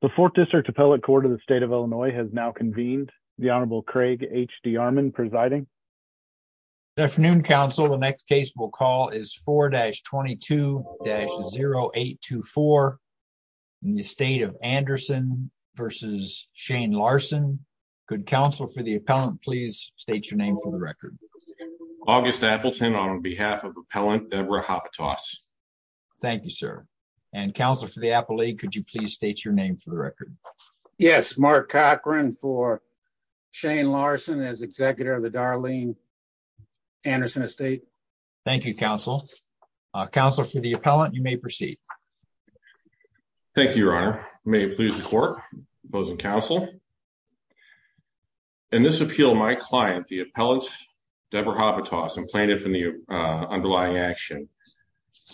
The 4th District Appellate Court of the State of Illinois has now convened. The Honorable Craig H. D. Armon presiding. Good afternoon, Counsel. The next case we'll call is 4-22-0824 in the State of Anderson v. Shane Larson. Could Counsel for the Appellant please state your name for the record. August Appleton on behalf of Appellant Deborah Hopitos. Thank you, sir. And Counselor for the Appellate, could you please state your name for the record. Yes, Mark Cochran for Shane Larson as Executive of the Darlene Anderson Estate. Thank you, Counsel. Counselor for the Appellant, you may proceed. Thank you, Your Honor. May it please the Court, opposing Counsel. In this appeal, my client, the Appellant Deborah Hopitos, and plaintiff in the underlying action,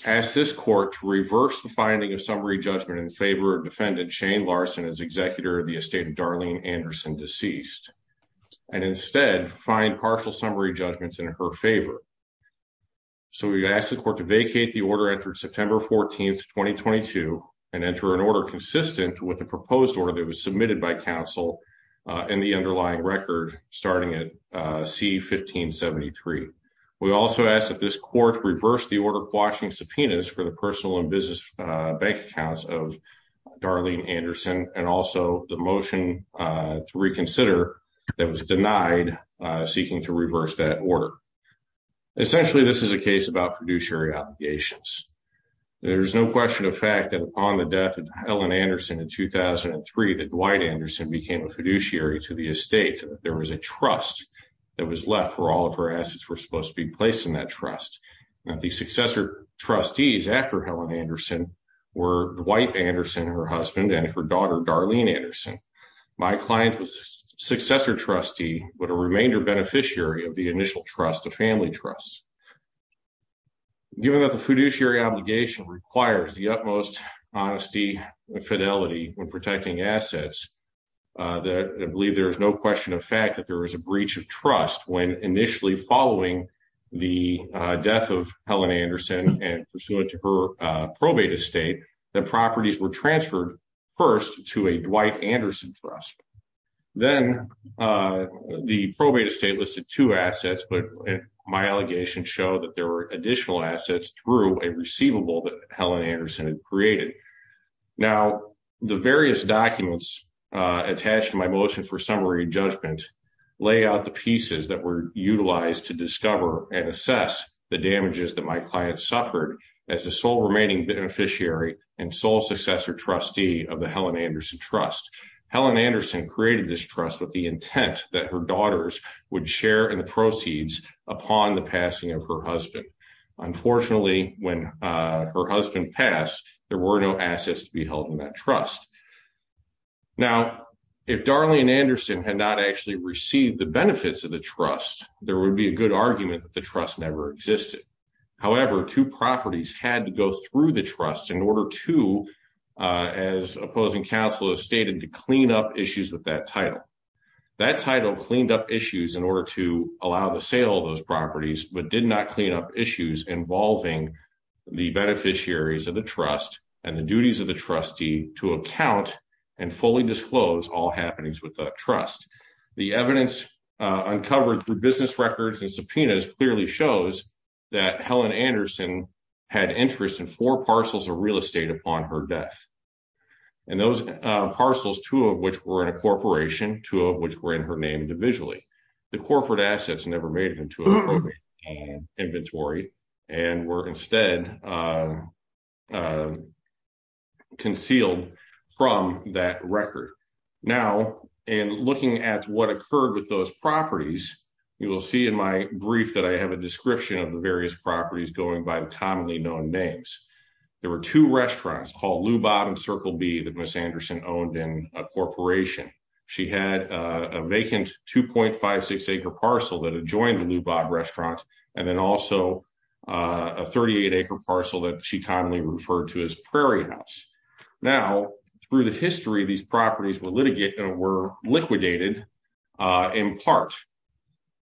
asked this Court to reverse the finding of summary judgment in favor of Defendant Shane Larson as Executive of the Estate of Darlene Anderson, deceased, and instead find partial summary judgments in her favor. So we ask the Court to vacate the order entered September 14, 2022, and enter an order consistent with the proposed order that was submitted by Counsel in the underlying record, starting at C-1573. We also ask that this Court reverse the order quashing subpoenas for the personal and business bank accounts of Darlene Anderson, and also the motion to reconsider that was denied seeking to reverse that order. Essentially, this is a case about fiduciary obligations. There's no question of fact that upon the death of Helen Anderson in 2003, that Dwight Anderson became a fiduciary to the estate. There was a trust that was left for all of her assets were supposed to be placed in that trust. Now, the successor trustees after Helen Anderson were Dwight Anderson, her husband, and her daughter, Darlene Anderson. My client was successor trustee, but a remainder beneficiary of the initial trust, a family trust. Given that the fiduciary obligation requires the utmost honesty and fidelity when protecting assets, I believe there is no question of fact that there is a breach of trust when initially following the death of Helen Anderson and pursuant to her probate estate, the properties were transferred first to a Dwight Anderson trust. Then the probate estate listed two assets, but my allegation showed that there were additional assets through a receivable that Helen Anderson had created. Now, the various documents attached to my motion for summary judgment lay out the pieces that were utilized to discover and assess the damages that my client suffered as a sole remaining beneficiary and sole successor trustee of the Helen Anderson trust. Helen Anderson created this trust with the intent that her daughters would share in the proceeds upon the passing of her husband. Unfortunately, when her husband passed, there were no assets to be held in that trust. Now, if Darlene Anderson had not actually received the benefits of the trust, there would be a good argument that the trust never existed. However, two properties had to go through the trust in order to, as opposing counsel has stated, to clean up issues with that title. That title cleaned up issues in order to allow the sale of those properties, but did not clean up issues involving the beneficiaries of the trust and the duties of the trustee to account and fully disclose all happenings with the trust. The evidence uncovered through business records and subpoenas clearly shows that Helen Anderson had interest in four parcels of real estate upon her death, and those parcels, two of which were in a corporation, two of which were in her name individually. The corporate assets never made it into her inventory and were instead concealed from that record. Now, in looking at what occurred with those properties, you will see in my brief that I have a description of the various properties going by the commonly known names. There were two restaurants called Lou Bob and Circle B that Ms. Anderson owned in a corporation. She had a vacant 2.56 acre parcel that adjoined the Lou Bob restaurant, and then also a 38 acre parcel that she commonly referred to as Prairie House. Now, through the history, these properties were liquidated in part.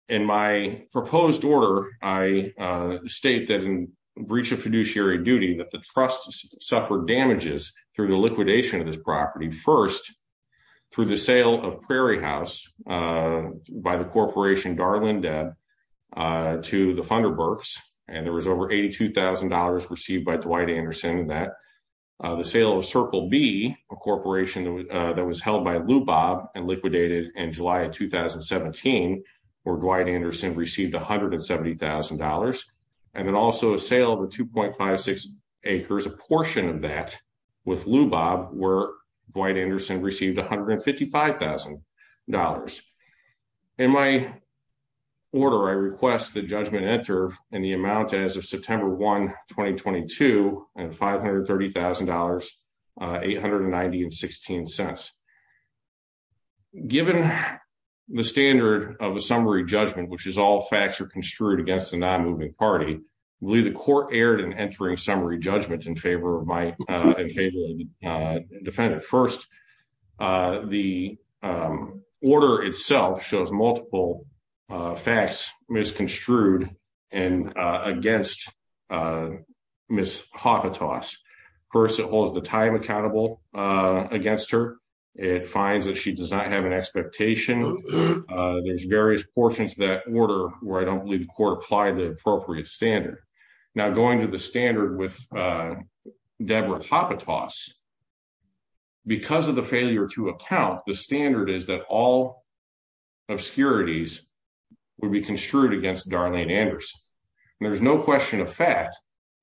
In my proposed order, I state that in breach of fiduciary duty that the trust suffered damages through the liquidation of this property. The sale of Circle B, a corporation that was held by Lou Bob, and liquidated in July of 2017, where Dwight Anderson received $170,000. And then also a sale of the 2.56 acres, a portion of that with Lou Bob, where Dwight Anderson received $155,000. In my order, I request that judgment enter in the amount as of September 1, 2022, and $530,890.16. Given the standard of a summary judgment, which is all facts are construed against a non-moving party, I believe the court erred in entering summary judgment in favor of my defendant. First, the order itself shows multiple facts misconstrued against Ms. Hopitas. First, it holds the time accountable against her. It finds that she does not have an expectation. There's various portions of that order where I don't believe the court applied the appropriate standard. Now, going to the standard with Deborah Hopitas, because of the failure to account, the standard is that all obscurities would be construed against Darlene Anderson. And there's no question of fact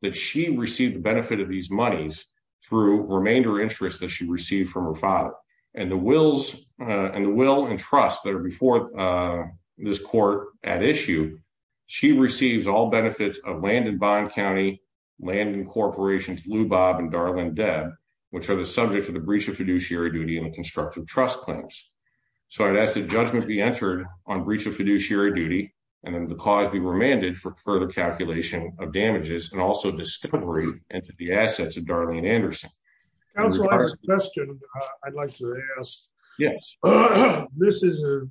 that she received the benefit of these monies through remainder interest that she received from her father. And the will and trust that are before this court at issue, she receives all benefits of land in Bond County, land in Corporations Lou Bob and Darlene Deb, which are the subject of the breach of fiduciary duty and constructive trust claims. So I'd ask that judgment be entered on breach of fiduciary duty, and then the cause be remanded for further calculation of damages and also discovery into the assets of Darlene Anderson. I'd like to ask. Yes. This is a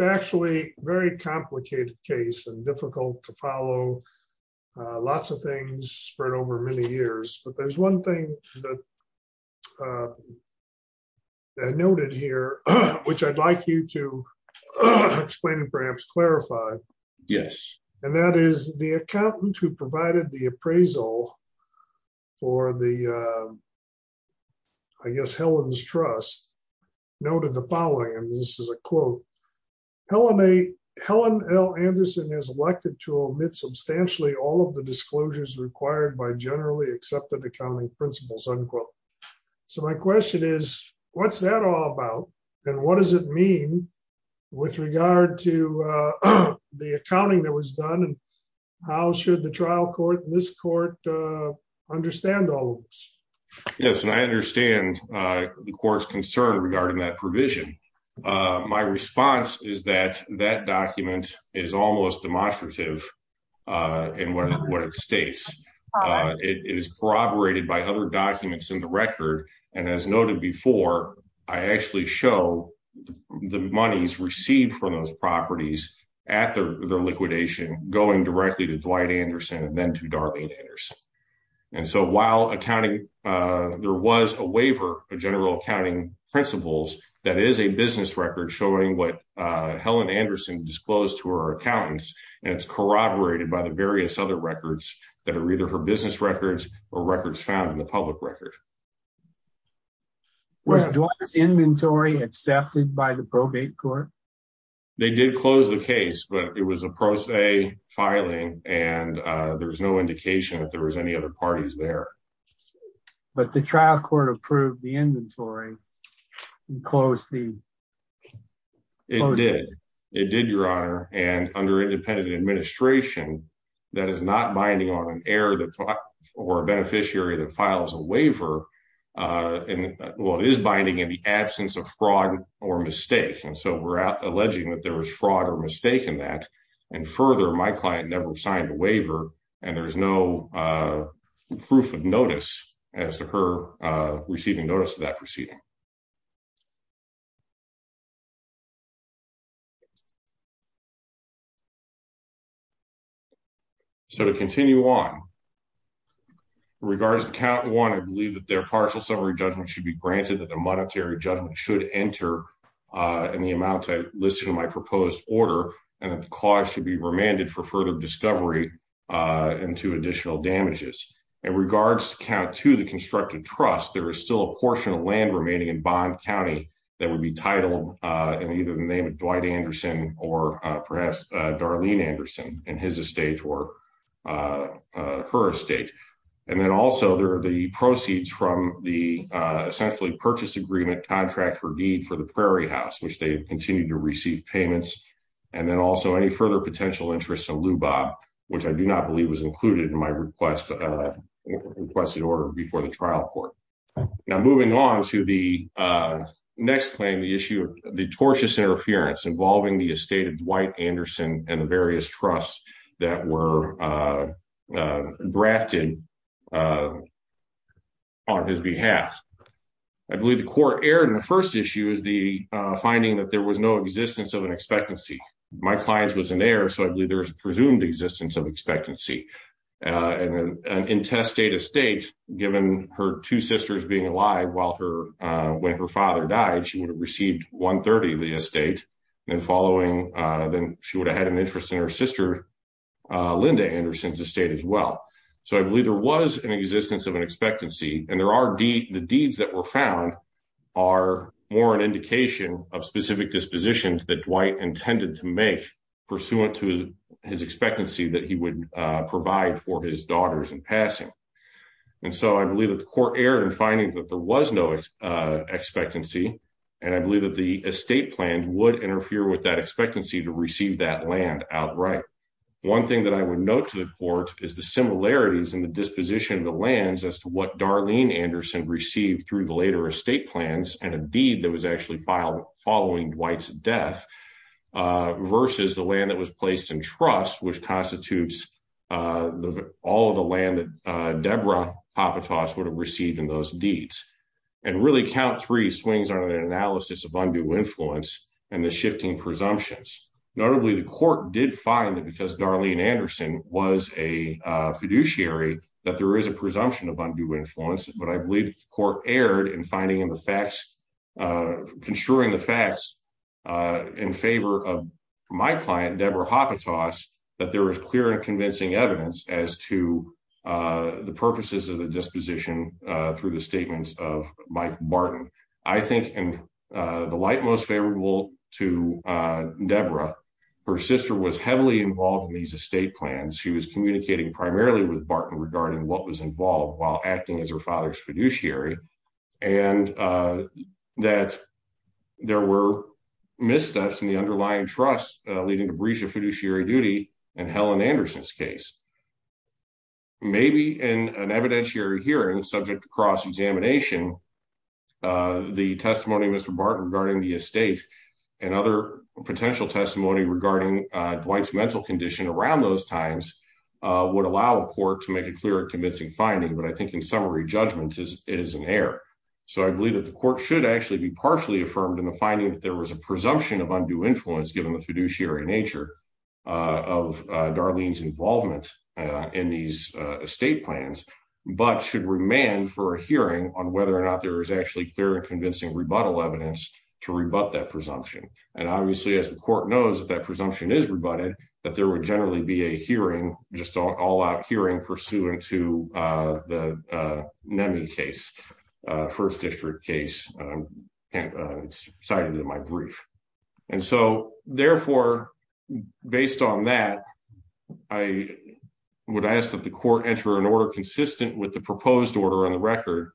factually very complicated case and difficult to follow. Lots of things spread over many years, but there's one thing that I noted here, which I'd like you to explain perhaps clarify. Yes, and that is the accountant who provided the appraisal for the. I guess Helen's trust noted the following and this is a quote, Helen a Helen L Anderson is elected to omit substantially all of the disclosures required by generally accepted accounting principles unquote. So my question is, what's that all about, and what does it mean with regard to the accounting that was done and how should the trial court in this court understand all this. Yes, and I understand the court's concern regarding that provision. My response is that that document is almost demonstrative. And what it states, it is corroborated by other documents in the record. And as noted before, I actually show the monies received from those properties at their liquidation going directly to Dwight Anderson and then to Darlene Anderson. And so while accounting, there was a waiver, a general accounting principles, that is a business record showing what Helen Anderson disclosed to her accountants, and it's corroborated by the various other records that are either for business records or records found in the public record. Was Dwight's inventory accepted by the probate court. They did close the case, but it was a pro se filing and there was no indication that there was any other parties there. But the trial court approved the inventory and closed the. It did, it did, Your Honor, and under independent administration, that is not binding on an error that or a beneficiary that files a waiver. And what is binding in the absence of fraud or mistake. And so we're out alleging that there was fraud or mistake in that. And further, my client never signed a waiver and there's no proof of notice as to her receiving notice of that proceeding. So to continue on. And either the name of Dwight Anderson, or perhaps Darlene Anderson, and his estate or her estate. And then also there are the proceeds from the essentially purchase agreement contract for deed for the Prairie House, which they continue to receive payments. And then also any further potential interest in Lubav, which I do not believe was included in my request, requested order before the trial court. Now, moving on to the next claim, the issue of the tortious interference involving the estate of Dwight Anderson and the various trusts that were drafted. On his behalf. I believe the court erred in the 1st issue is the finding that there was no existence of an expectancy. My clients was in there. So I believe there's presumed existence of expectancy. And then an intestate estate, given her 2 sisters being alive while her when her father died, she would have received 130 of the estate. And following then she would have had an interest in her sister. Linda Anderson's estate as well. So, I believe there was an existence of an expectancy and there are the deeds that were found. Are more an indication of specific dispositions that Dwight intended to make pursuant to his expectancy that he would provide for his daughters and passing. And so I believe that the court error and finding that there was no expectancy. And I believe that the estate plan would interfere with that expectancy to receive that land outright. 1 thing that I would note to the court is the similarities in the disposition of the lands as to what Darlene Anderson received through the later estate plans and a deed that was actually filed following Dwight's death. Versus the land that was placed in trust, which constitutes all of the land that Deborah would have received in those deeds and really count 3 swings on an analysis of undue influence and the shifting presumptions. Notably, the court did find that because Darlene Anderson was a fiduciary that there is a presumption of undue influence. But I believe the court erred in finding in the facts, construing the facts in favor of my client, Deborah, that there was clear and convincing evidence as to the purposes of the disposition through the statements of Mike Barton. I think in the light most favorable to Deborah, her sister was heavily involved in these estate plans. She was communicating primarily with Barton regarding what was involved while acting as her father's fiduciary. And that there were missteps in the underlying trust, leading to breach of fiduciary duty and Helen Anderson's case. Maybe in an evidentiary hearing, subject to cross examination. The testimony, Mr. Barton regarding the estate and other potential testimony regarding Dwight's mental condition around those times would allow a court to make a clear and convincing finding. But I think in summary, judgment is an error. So I believe that the court should actually be partially affirmed in the finding that there was a presumption of undue influence, given the fiduciary nature of Darlene's involvement in these estate plans. But should remand for a hearing on whether or not there is actually clear and convincing rebuttal evidence to rebut that presumption. And obviously, as the court knows that that presumption is rebutted, that there would generally be a hearing, just all out hearing pursuant to the NEMI case, first district case cited in my brief. And so, therefore, based on that, I would ask that the court enter an order consistent with the proposed order on the record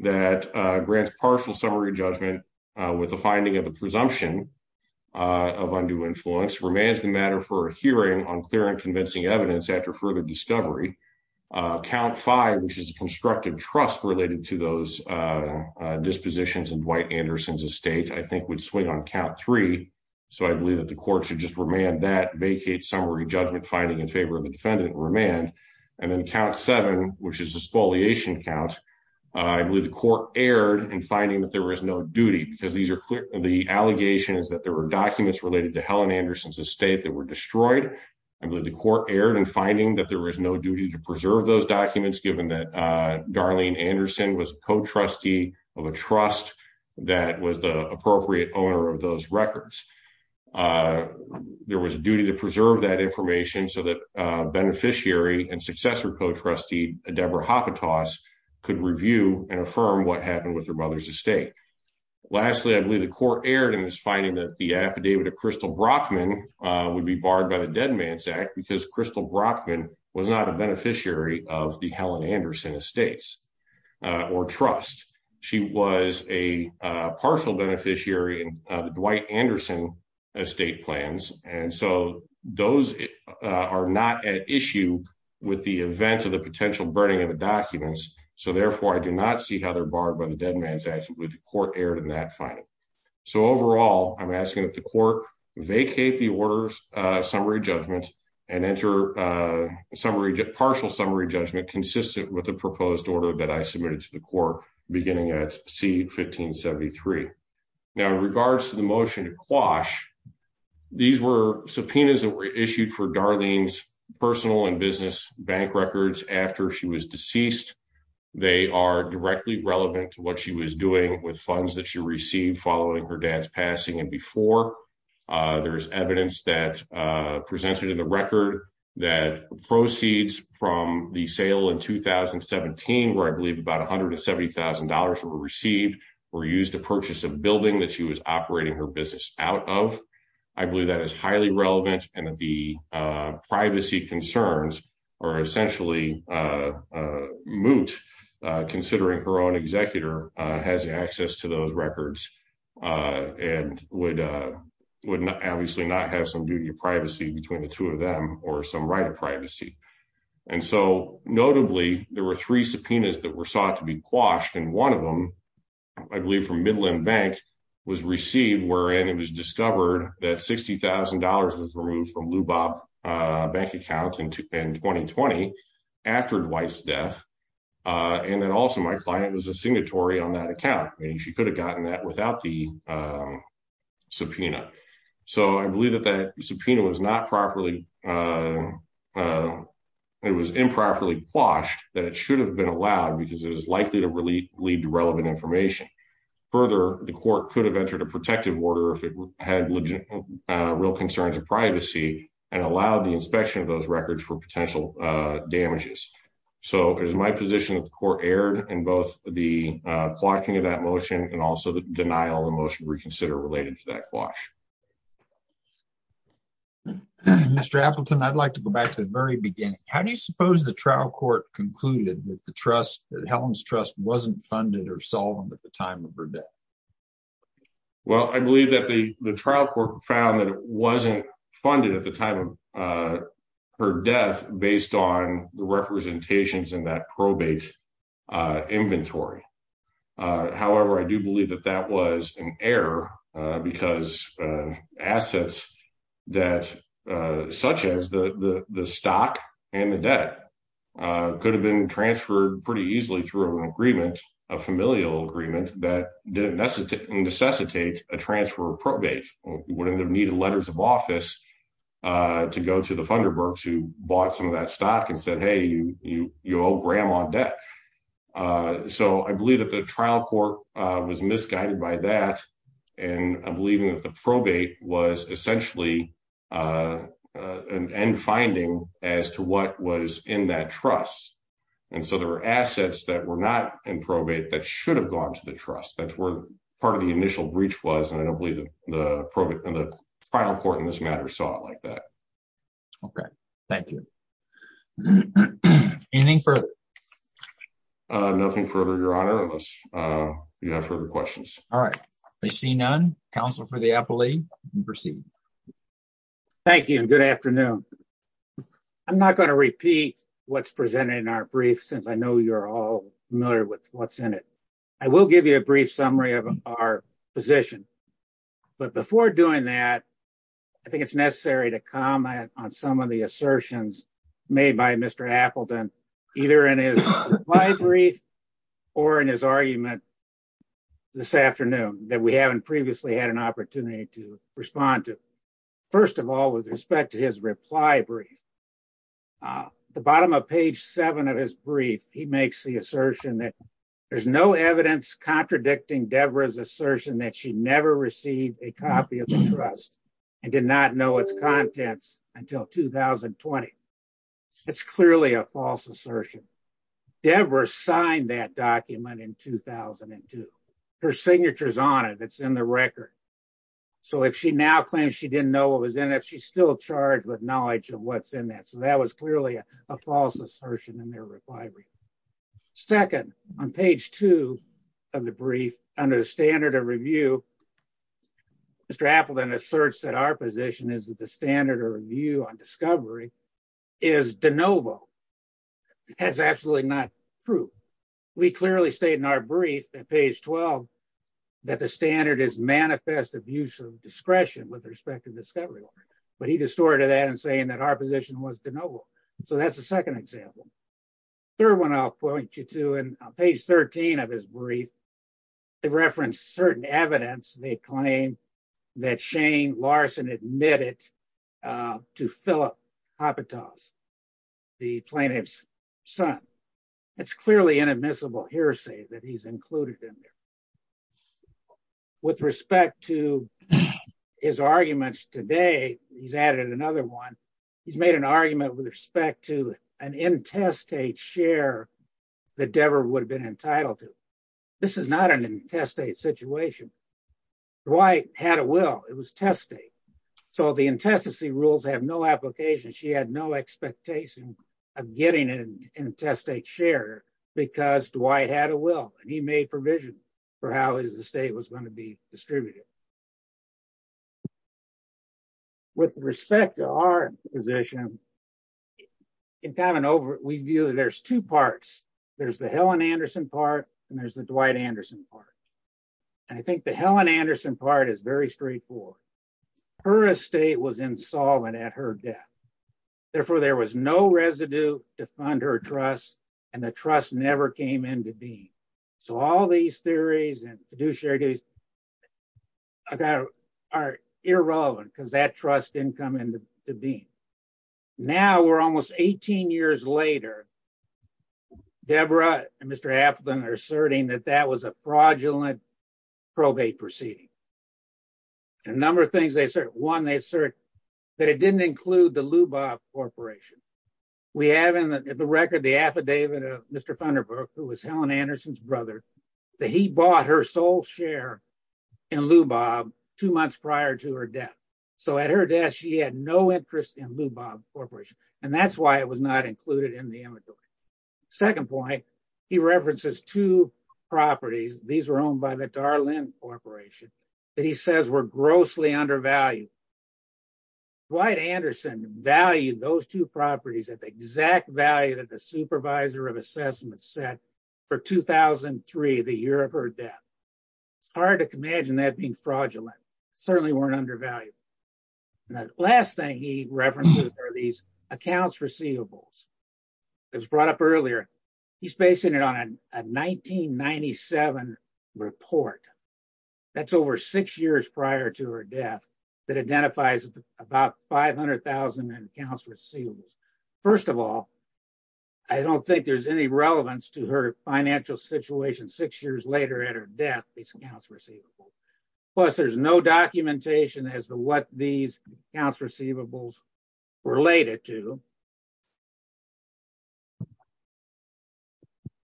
that grants partial summary judgment with the finding of the presumption of undue influence remains the matter for a hearing on clear and convincing evidence after further discovery. Count five, which is a constructive trust related to those dispositions in Dwight Anderson's estate, I think would swing on count three. So I believe that the court should just remand that vacate summary judgment finding in favor of the defendant remand. And then count seven, which is a spoliation count. I believe the court erred in finding that there was no duty because the allegations that there were documents related to Helen Anderson's estate that were destroyed. I believe the court erred in finding that there was no duty to preserve those documents, given that Darlene Anderson was a co-trustee of a trust that was the appropriate owner of those records. There was a duty to preserve that information so that beneficiary and successor co-trustee Deborah Hopitas could review and affirm what happened with her mother's estate. Lastly, I believe the court erred in its finding that the affidavit of Crystal Brockman would be barred by the Dead Man's Act because Crystal Brockman was not a beneficiary of the Helen Anderson estates or trust. She was a partial beneficiary of the Dwight Anderson estate plans, and so those are not at issue with the event of the potential burning of the documents. So therefore, I do not see how they're barred by the Dead Man's Act. I believe the court erred in that finding. So overall, I'm asking that the court vacate the order's summary judgment and enter partial summary judgment consistent with the proposed order that I submitted to the court beginning at C-1573. Now, in regards to the motion to quash, these were subpoenas that were issued for Darlene's personal and business bank records after she was deceased. They are directly relevant to what she was doing with funds that she received following her dad's passing and before. There is evidence that presented in the record that proceeds from the sale in 2017, where I believe about $170,000 were received, were used to purchase a building that she was operating her business out of. I believe that is highly relevant and that the privacy concerns are essentially moot, considering her own executor has access to those records and would obviously not have some duty of privacy between the two of them or some right of privacy. And so, notably, there were three subpoenas that were sought to be quashed, and one of them, I believe from Midland Bank, was received wherein it was discovered that $60,000 was removed from Lubob Bank account in 2020 after Dwight's death. And then also my client was a signatory on that account. She could have gotten that without the subpoena. So I believe that that subpoena was improperly quashed, that it should have been allowed because it was likely to lead to relevant information. Further, the court could have entered a protective order if it had real concerns of privacy and allowed the inspection of those records for potential damages. So it is my position that the court erred in both the quashing of that motion and also the denial of the motion reconsidered related to that quash. Mr. Appleton, I'd like to go back to the very beginning. How do you suppose the trial court concluded that Helen's trust wasn't funded or solemn at the time of her death? Well, I believe that the trial court found that it wasn't funded at the time of her death based on the representations in that probate inventory. However, I do believe that that was an error because assets such as the stock and the debt could have been transferred pretty easily through a familial agreement that didn't necessitate a transfer of probate. You wouldn't have needed letters of office to go to the Funderburks who bought some of that stock and said, hey, you owe grandma debt. So I believe that the trial court was misguided by that, and I'm believing that the probate was essentially an end finding as to what was in that trust. And so there were assets that were not in probate that should have gone to the trust. That's where part of the initial breach was, and I don't believe the probate and the final court in this matter saw it like that. Okay, thank you. Anything further? Nothing further, Your Honor, unless you have further questions. All right. I see none. Counsel for the appellee, you can proceed. Thank you and good afternoon. I'm not going to repeat what's presented in our brief since I know you're all familiar with what's in it. I will give you a brief summary of our position. But before doing that, I think it's necessary to comment on some of the assertions made by Mr. Appleton, either in his reply brief or in his argument this afternoon that we haven't previously had an opportunity to respond to. First of all, with respect to his reply brief, at the bottom of page seven of his brief, he makes the assertion that there's no evidence contradicting Deborah's assertion that she never received a copy of the trust and did not know its contents until 2020. It's clearly a false assertion. Deborah signed that document in 2002. Her signature's on it. It's in the record. So if she now claims she didn't know what was in it, she's still charged with knowledge of what's in that. So that was clearly a false assertion in their reply brief. Second, on page two of the brief, under the standard of review, Mr. Appleton asserts that our position is that the standard of review on discovery is de novo. That's absolutely not true. We clearly state in our brief at page 12 that the standard is manifest abuse of discretion with respect to discovery. But he distorted that and saying that our position was de novo. So that's the second example. Third one I'll point you to, on page 13 of his brief, they reference certain evidence they claim that Shane Larson admitted to Philip Apatow, the plaintiff's son. It's clearly inadmissible hearsay that he's included in there. With respect to his arguments today, he's added another one. He's made an argument with respect to an intestate share that Deborah would have been entitled to. This is not an intestate situation. Dwight had a will. It was test state. So the intestacy rules have no application. She had no expectation of getting an intestate share because Dwight had a will. He made provision for how the state was going to be distributed. With respect to our position, we view there's two parts. There's the Helen Anderson part, and there's the Dwight Anderson part. I think the Helen Anderson part is very straightforward. Her estate was insolvent at her death. Therefore, there was no residue to fund her trust, and the trust never came into being. So all these theories and fiduciary theories are irrelevant because that trust didn't come into being. Now we're almost 18 years later, Deborah and Mr. Apatow are asserting that that was a fraudulent probate proceeding. A number of things they assert. One, they assert that it didn't include the Lubav Corporation. We have in the record the affidavit of Mr. Thunderbird, who was Helen Anderson's brother, that he bought her sole share in Lubav two months prior to her death. So at her death, she had no interest in Lubav Corporation, and that's why it was not included in the inventory. Second point, he references two properties. These were owned by the Darlene Corporation that he says were grossly undervalued. Dwight Anderson valued those two properties at the exact value that the supervisor of assessment set for 2003, the year of her death. It's hard to imagine that being fraudulent. Certainly weren't undervalued. The last thing he references are these accounts receivables. It was brought up earlier. He's basing it on a 1997 report. That's over six years prior to her death that identifies about 500,000 accounts receivables. First of all, I don't think there's any relevance to her financial situation six years later at her death, these accounts receivables. Plus, there's no documentation as to what these accounts receivables related to.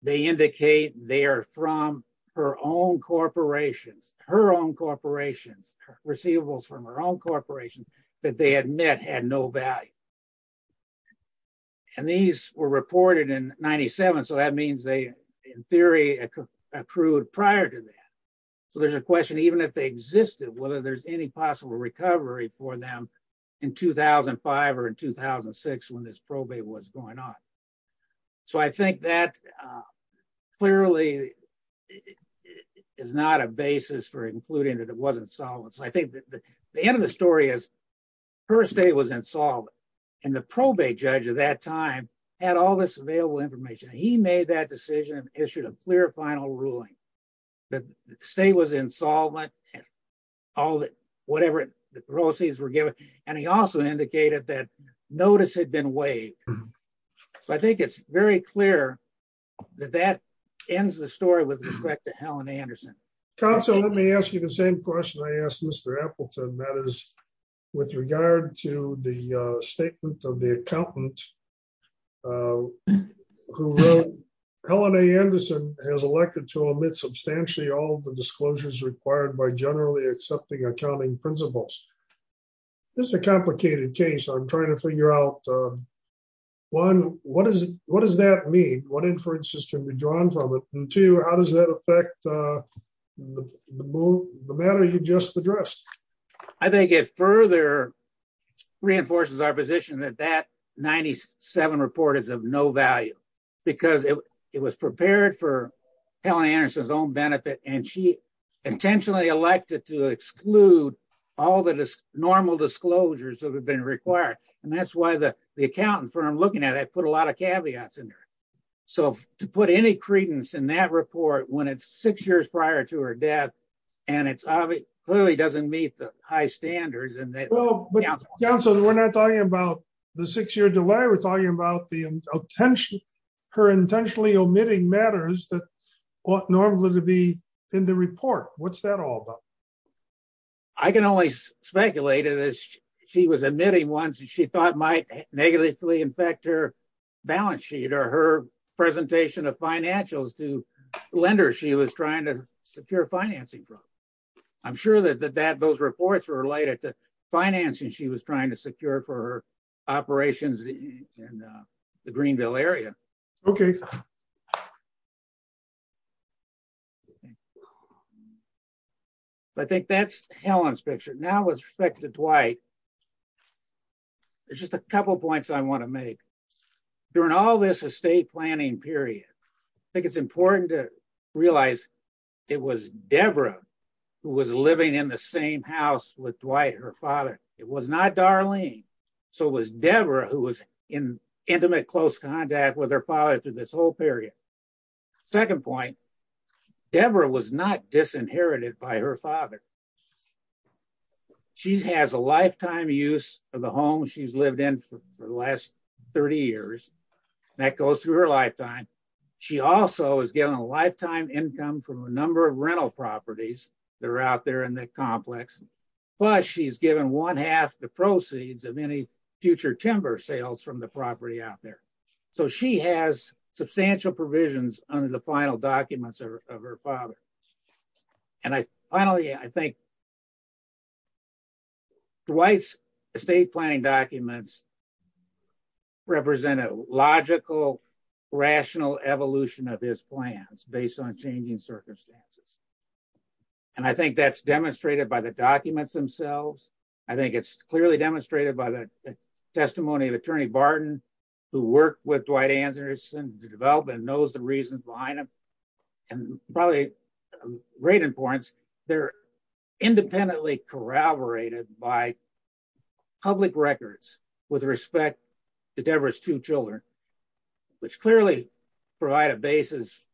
They indicate they are from her own corporations, her own corporations, receivables from her own corporation that they admit had no value. These were reported in 1997, so that means they, in theory, accrued prior to that. There's a question, even if they existed, whether there's any possible recovery for them in 2005 or 2006 when this probate was going on. I think that clearly is not a basis for including that it wasn't solvent. I think the end of the story is her estate was insolvent, and the probate judge at that time had all this available information. He made that decision and issued a clear final ruling that the state was insolvent, all that, whatever the proceeds were given, and he also indicated that notice had been waived. So I think it's very clear that that ends the story with respect to Helen Anderson. Council, let me ask you the same question I asked Mr. Appleton, that is, with regard to the statement of the accountant, who Helen Anderson has elected to omit substantially all the disclosures required by generally accepting accounting principles. This is a complicated case. I'm trying to figure out, one, what does that mean? What inferences can be drawn from it? And two, how does that affect the matter you just addressed? I think it further reinforces our position that that 97 report is of no value, because it was prepared for Helen Anderson's own benefit, and she intentionally elected to exclude all the normal disclosures that have been required. And that's why the accountant, from what I'm looking at, put a lot of caveats in there. So to put any credence in that report, when it's six years prior to her death, and it clearly doesn't meet the high standards. Council, we're not talking about the six-year delay, we're talking about her intentionally omitting matters that ought normally to be in the report. What's that all about? I can only speculate that she was omitting ones that she thought might negatively affect her balance sheet or her presentation of financials to lenders she was trying to secure financing from. I'm sure that those reports were related to financing she was trying to secure for her operations in the Greenville area. Okay. I think that's Helen's picture. Now with respect to Dwight, there's just a couple points I want to make. During all this estate planning period, I think it's important to realize it was Deborah who was living in the same house with Dwight, her father. It was not Darlene. So it was Deborah who was in intimate close contact with her father through this whole period. Second point, Deborah was not disinherited by her father. She has a lifetime use of the home she's lived in for the last 30 years. That goes through her lifetime. She also is given a lifetime income from a number of rental properties that are out there in the complex. Plus she's given one half the proceeds of any future timber sales from the property out there. So she has substantial provisions under the final documents of her father. And finally, I think Dwight's estate planning documents represent a logical, rational evolution of his plans based on changing circumstances. And I think that's demonstrated by the documents themselves. I think it's clearly demonstrated by the testimony of Attorney Barton, who worked with Dwight Anderson to develop and knows the reasons behind them. And probably of great importance, they're independently corroborated by public records with respect to Deborah's two children, which clearly provide a basis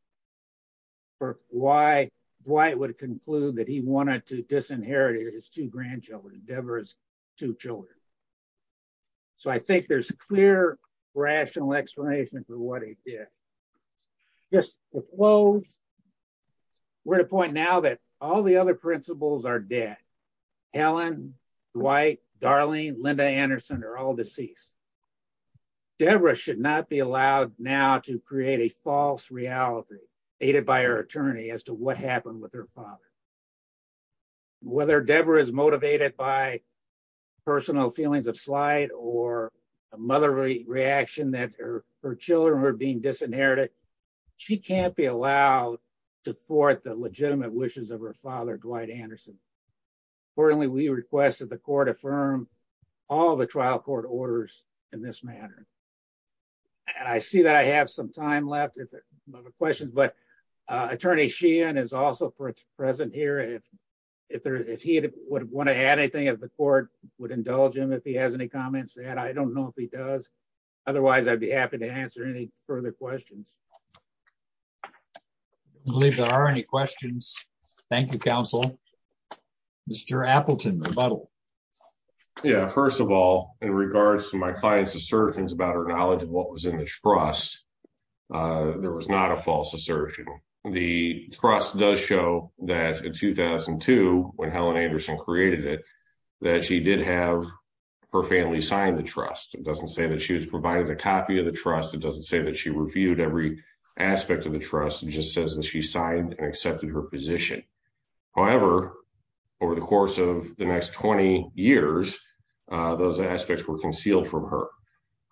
for why Dwight would conclude that he wanted to disinherit his two grandchildren, Deborah's two children. So I think there's a clear, rational explanation for what he did. Just to close, we're at a point now that all the other principals are dead. Helen, Dwight, Darlene, Linda Anderson are all deceased. Deborah should not be allowed now to create a false reality aided by her attorney as to what happened with her father. Whether Deborah is motivated by personal feelings of slight or a motherly reaction that her children are being disinherited, she can't be allowed to thwart the legitimate wishes of her father, Dwight Anderson. Importantly, we request that the court affirm all the trial court orders in this manner. And I see that I have some time left with questions, but Attorney Sheehan is also present here. If he would want to add anything, if the court would indulge him, if he has any comments to add, I don't know if he does. Otherwise, I'd be happy to answer any further questions. I believe there are any questions. Thank you, counsel. Mr. Appleton, rebuttal. Yeah, first of all, in regards to my client's assertions about her knowledge of what was in the trust, there was not a false assertion. The trust does show that in 2002, when Helen Anderson created it, that she did have her family sign the trust. It doesn't say that she was provided a copy of the trust. It doesn't say that she reviewed every aspect of the trust. It just says that she signed and accepted her position. However, over the course of the next 20 years, those aspects were concealed from her.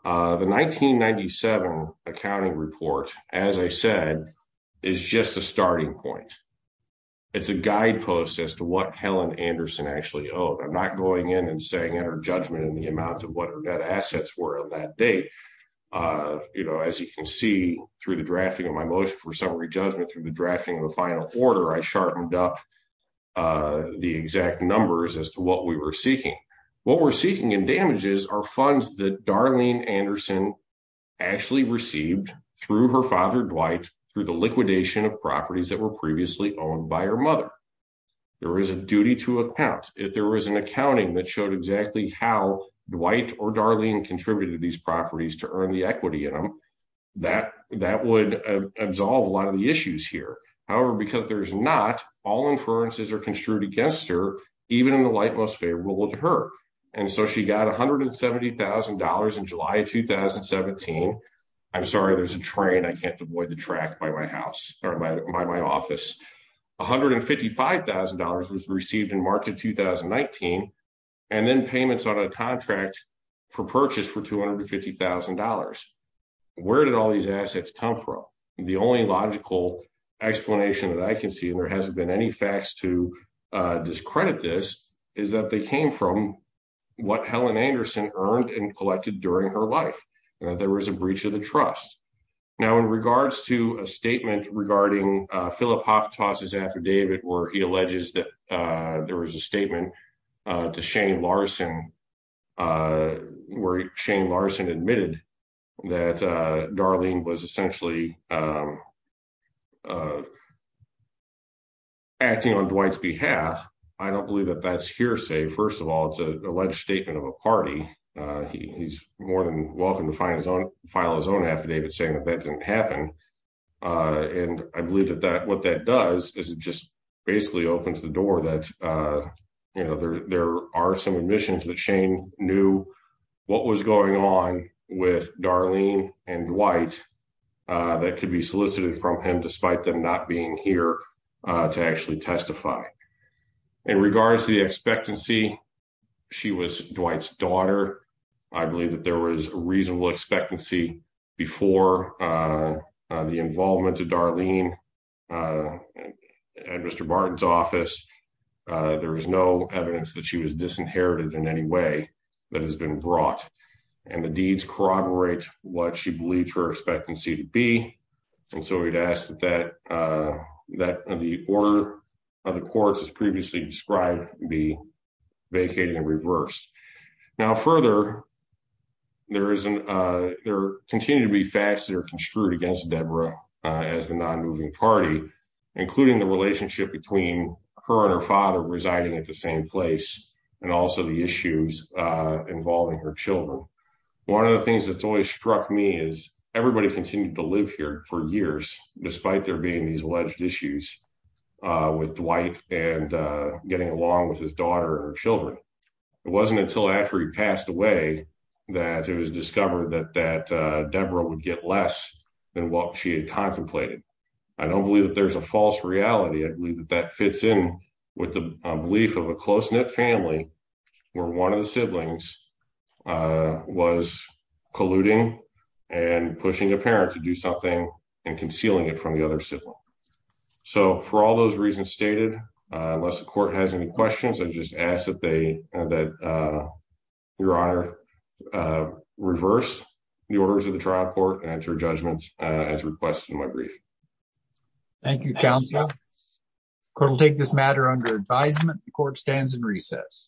The 1997 accounting report, as I said, is just a starting point. It's a guidepost as to what Helen Anderson actually owed. I'm not going in and saying enter judgment in the amount of what her debt assets were on that date. As you can see, through the drafting of my motion for summary judgment, through the drafting of the final order, I sharpened up the exact numbers as to what we were seeking. What we're seeking in damages are funds that Darlene Anderson actually received through her father, Dwight, through the liquidation of properties that were previously owned by her mother. There is a duty to account. If there was an accounting that showed exactly how Dwight or Darlene contributed these properties to earn the equity in them, that would absolve a lot of the issues here. However, because there's not, all inferences are construed against her, even in the light most favorable to her. And so she got $170,000 in July of 2017. I'm sorry, there's a train. I can't avoid the track by my house or by my office. $155,000 was received in March of 2019, and then payments on a contract for purchase for $250,000. Where did all these assets come from? The only logical explanation that I can see, and there hasn't been any facts to discredit this, is that they came from what Helen Anderson earned and collected during her life. There was a breach of the trust. Now, in regards to a statement regarding Philip Hofstoss' affidavit, where he alleges that there was a statement to Shane Larson, where Shane Larson admitted that Darlene was essentially acting on Dwight's behalf. I don't believe that that's hearsay. First of all, it's an alleged statement of a party. He's more than welcome to file his own affidavit saying that that didn't happen. And I believe that what that does is it just basically opens the door that there are some admissions that Shane knew what was going on with Darlene and Dwight that could be solicited from him, despite them not being here to actually testify. In regards to the expectancy, she was Dwight's daughter. I believe that there was a reasonable expectancy before the involvement of Darlene at Mr. Martin's office. There is no evidence that she was disinherited in any way that has been brought, and the deeds corroborate what she believes her expectancy to be. And so we'd ask that the order of the courts as previously described be vacated and reversed. Now, further, there continue to be facts that are construed against Deborah as the non-moving party, including the relationship between her and her father residing at the same place, and also the issues involving her children. One of the things that's always struck me is everybody continued to live here for years, despite there being these alleged issues with Dwight and getting along with his daughter and children. It wasn't until after he passed away that it was discovered that Deborah would get less than what she had contemplated. I don't believe that there's a false reality. I believe that that fits in with the belief of a close-knit family where one of the siblings was colluding and pushing a parent to do something and concealing it from the other sibling. So for all those reasons stated, unless the court has any questions, I just ask that your honor reverse the orders of the trial court and enter judgments as requested in my brief. Thank you, counsel. We'll take this matter under advisement. The court stands in recess.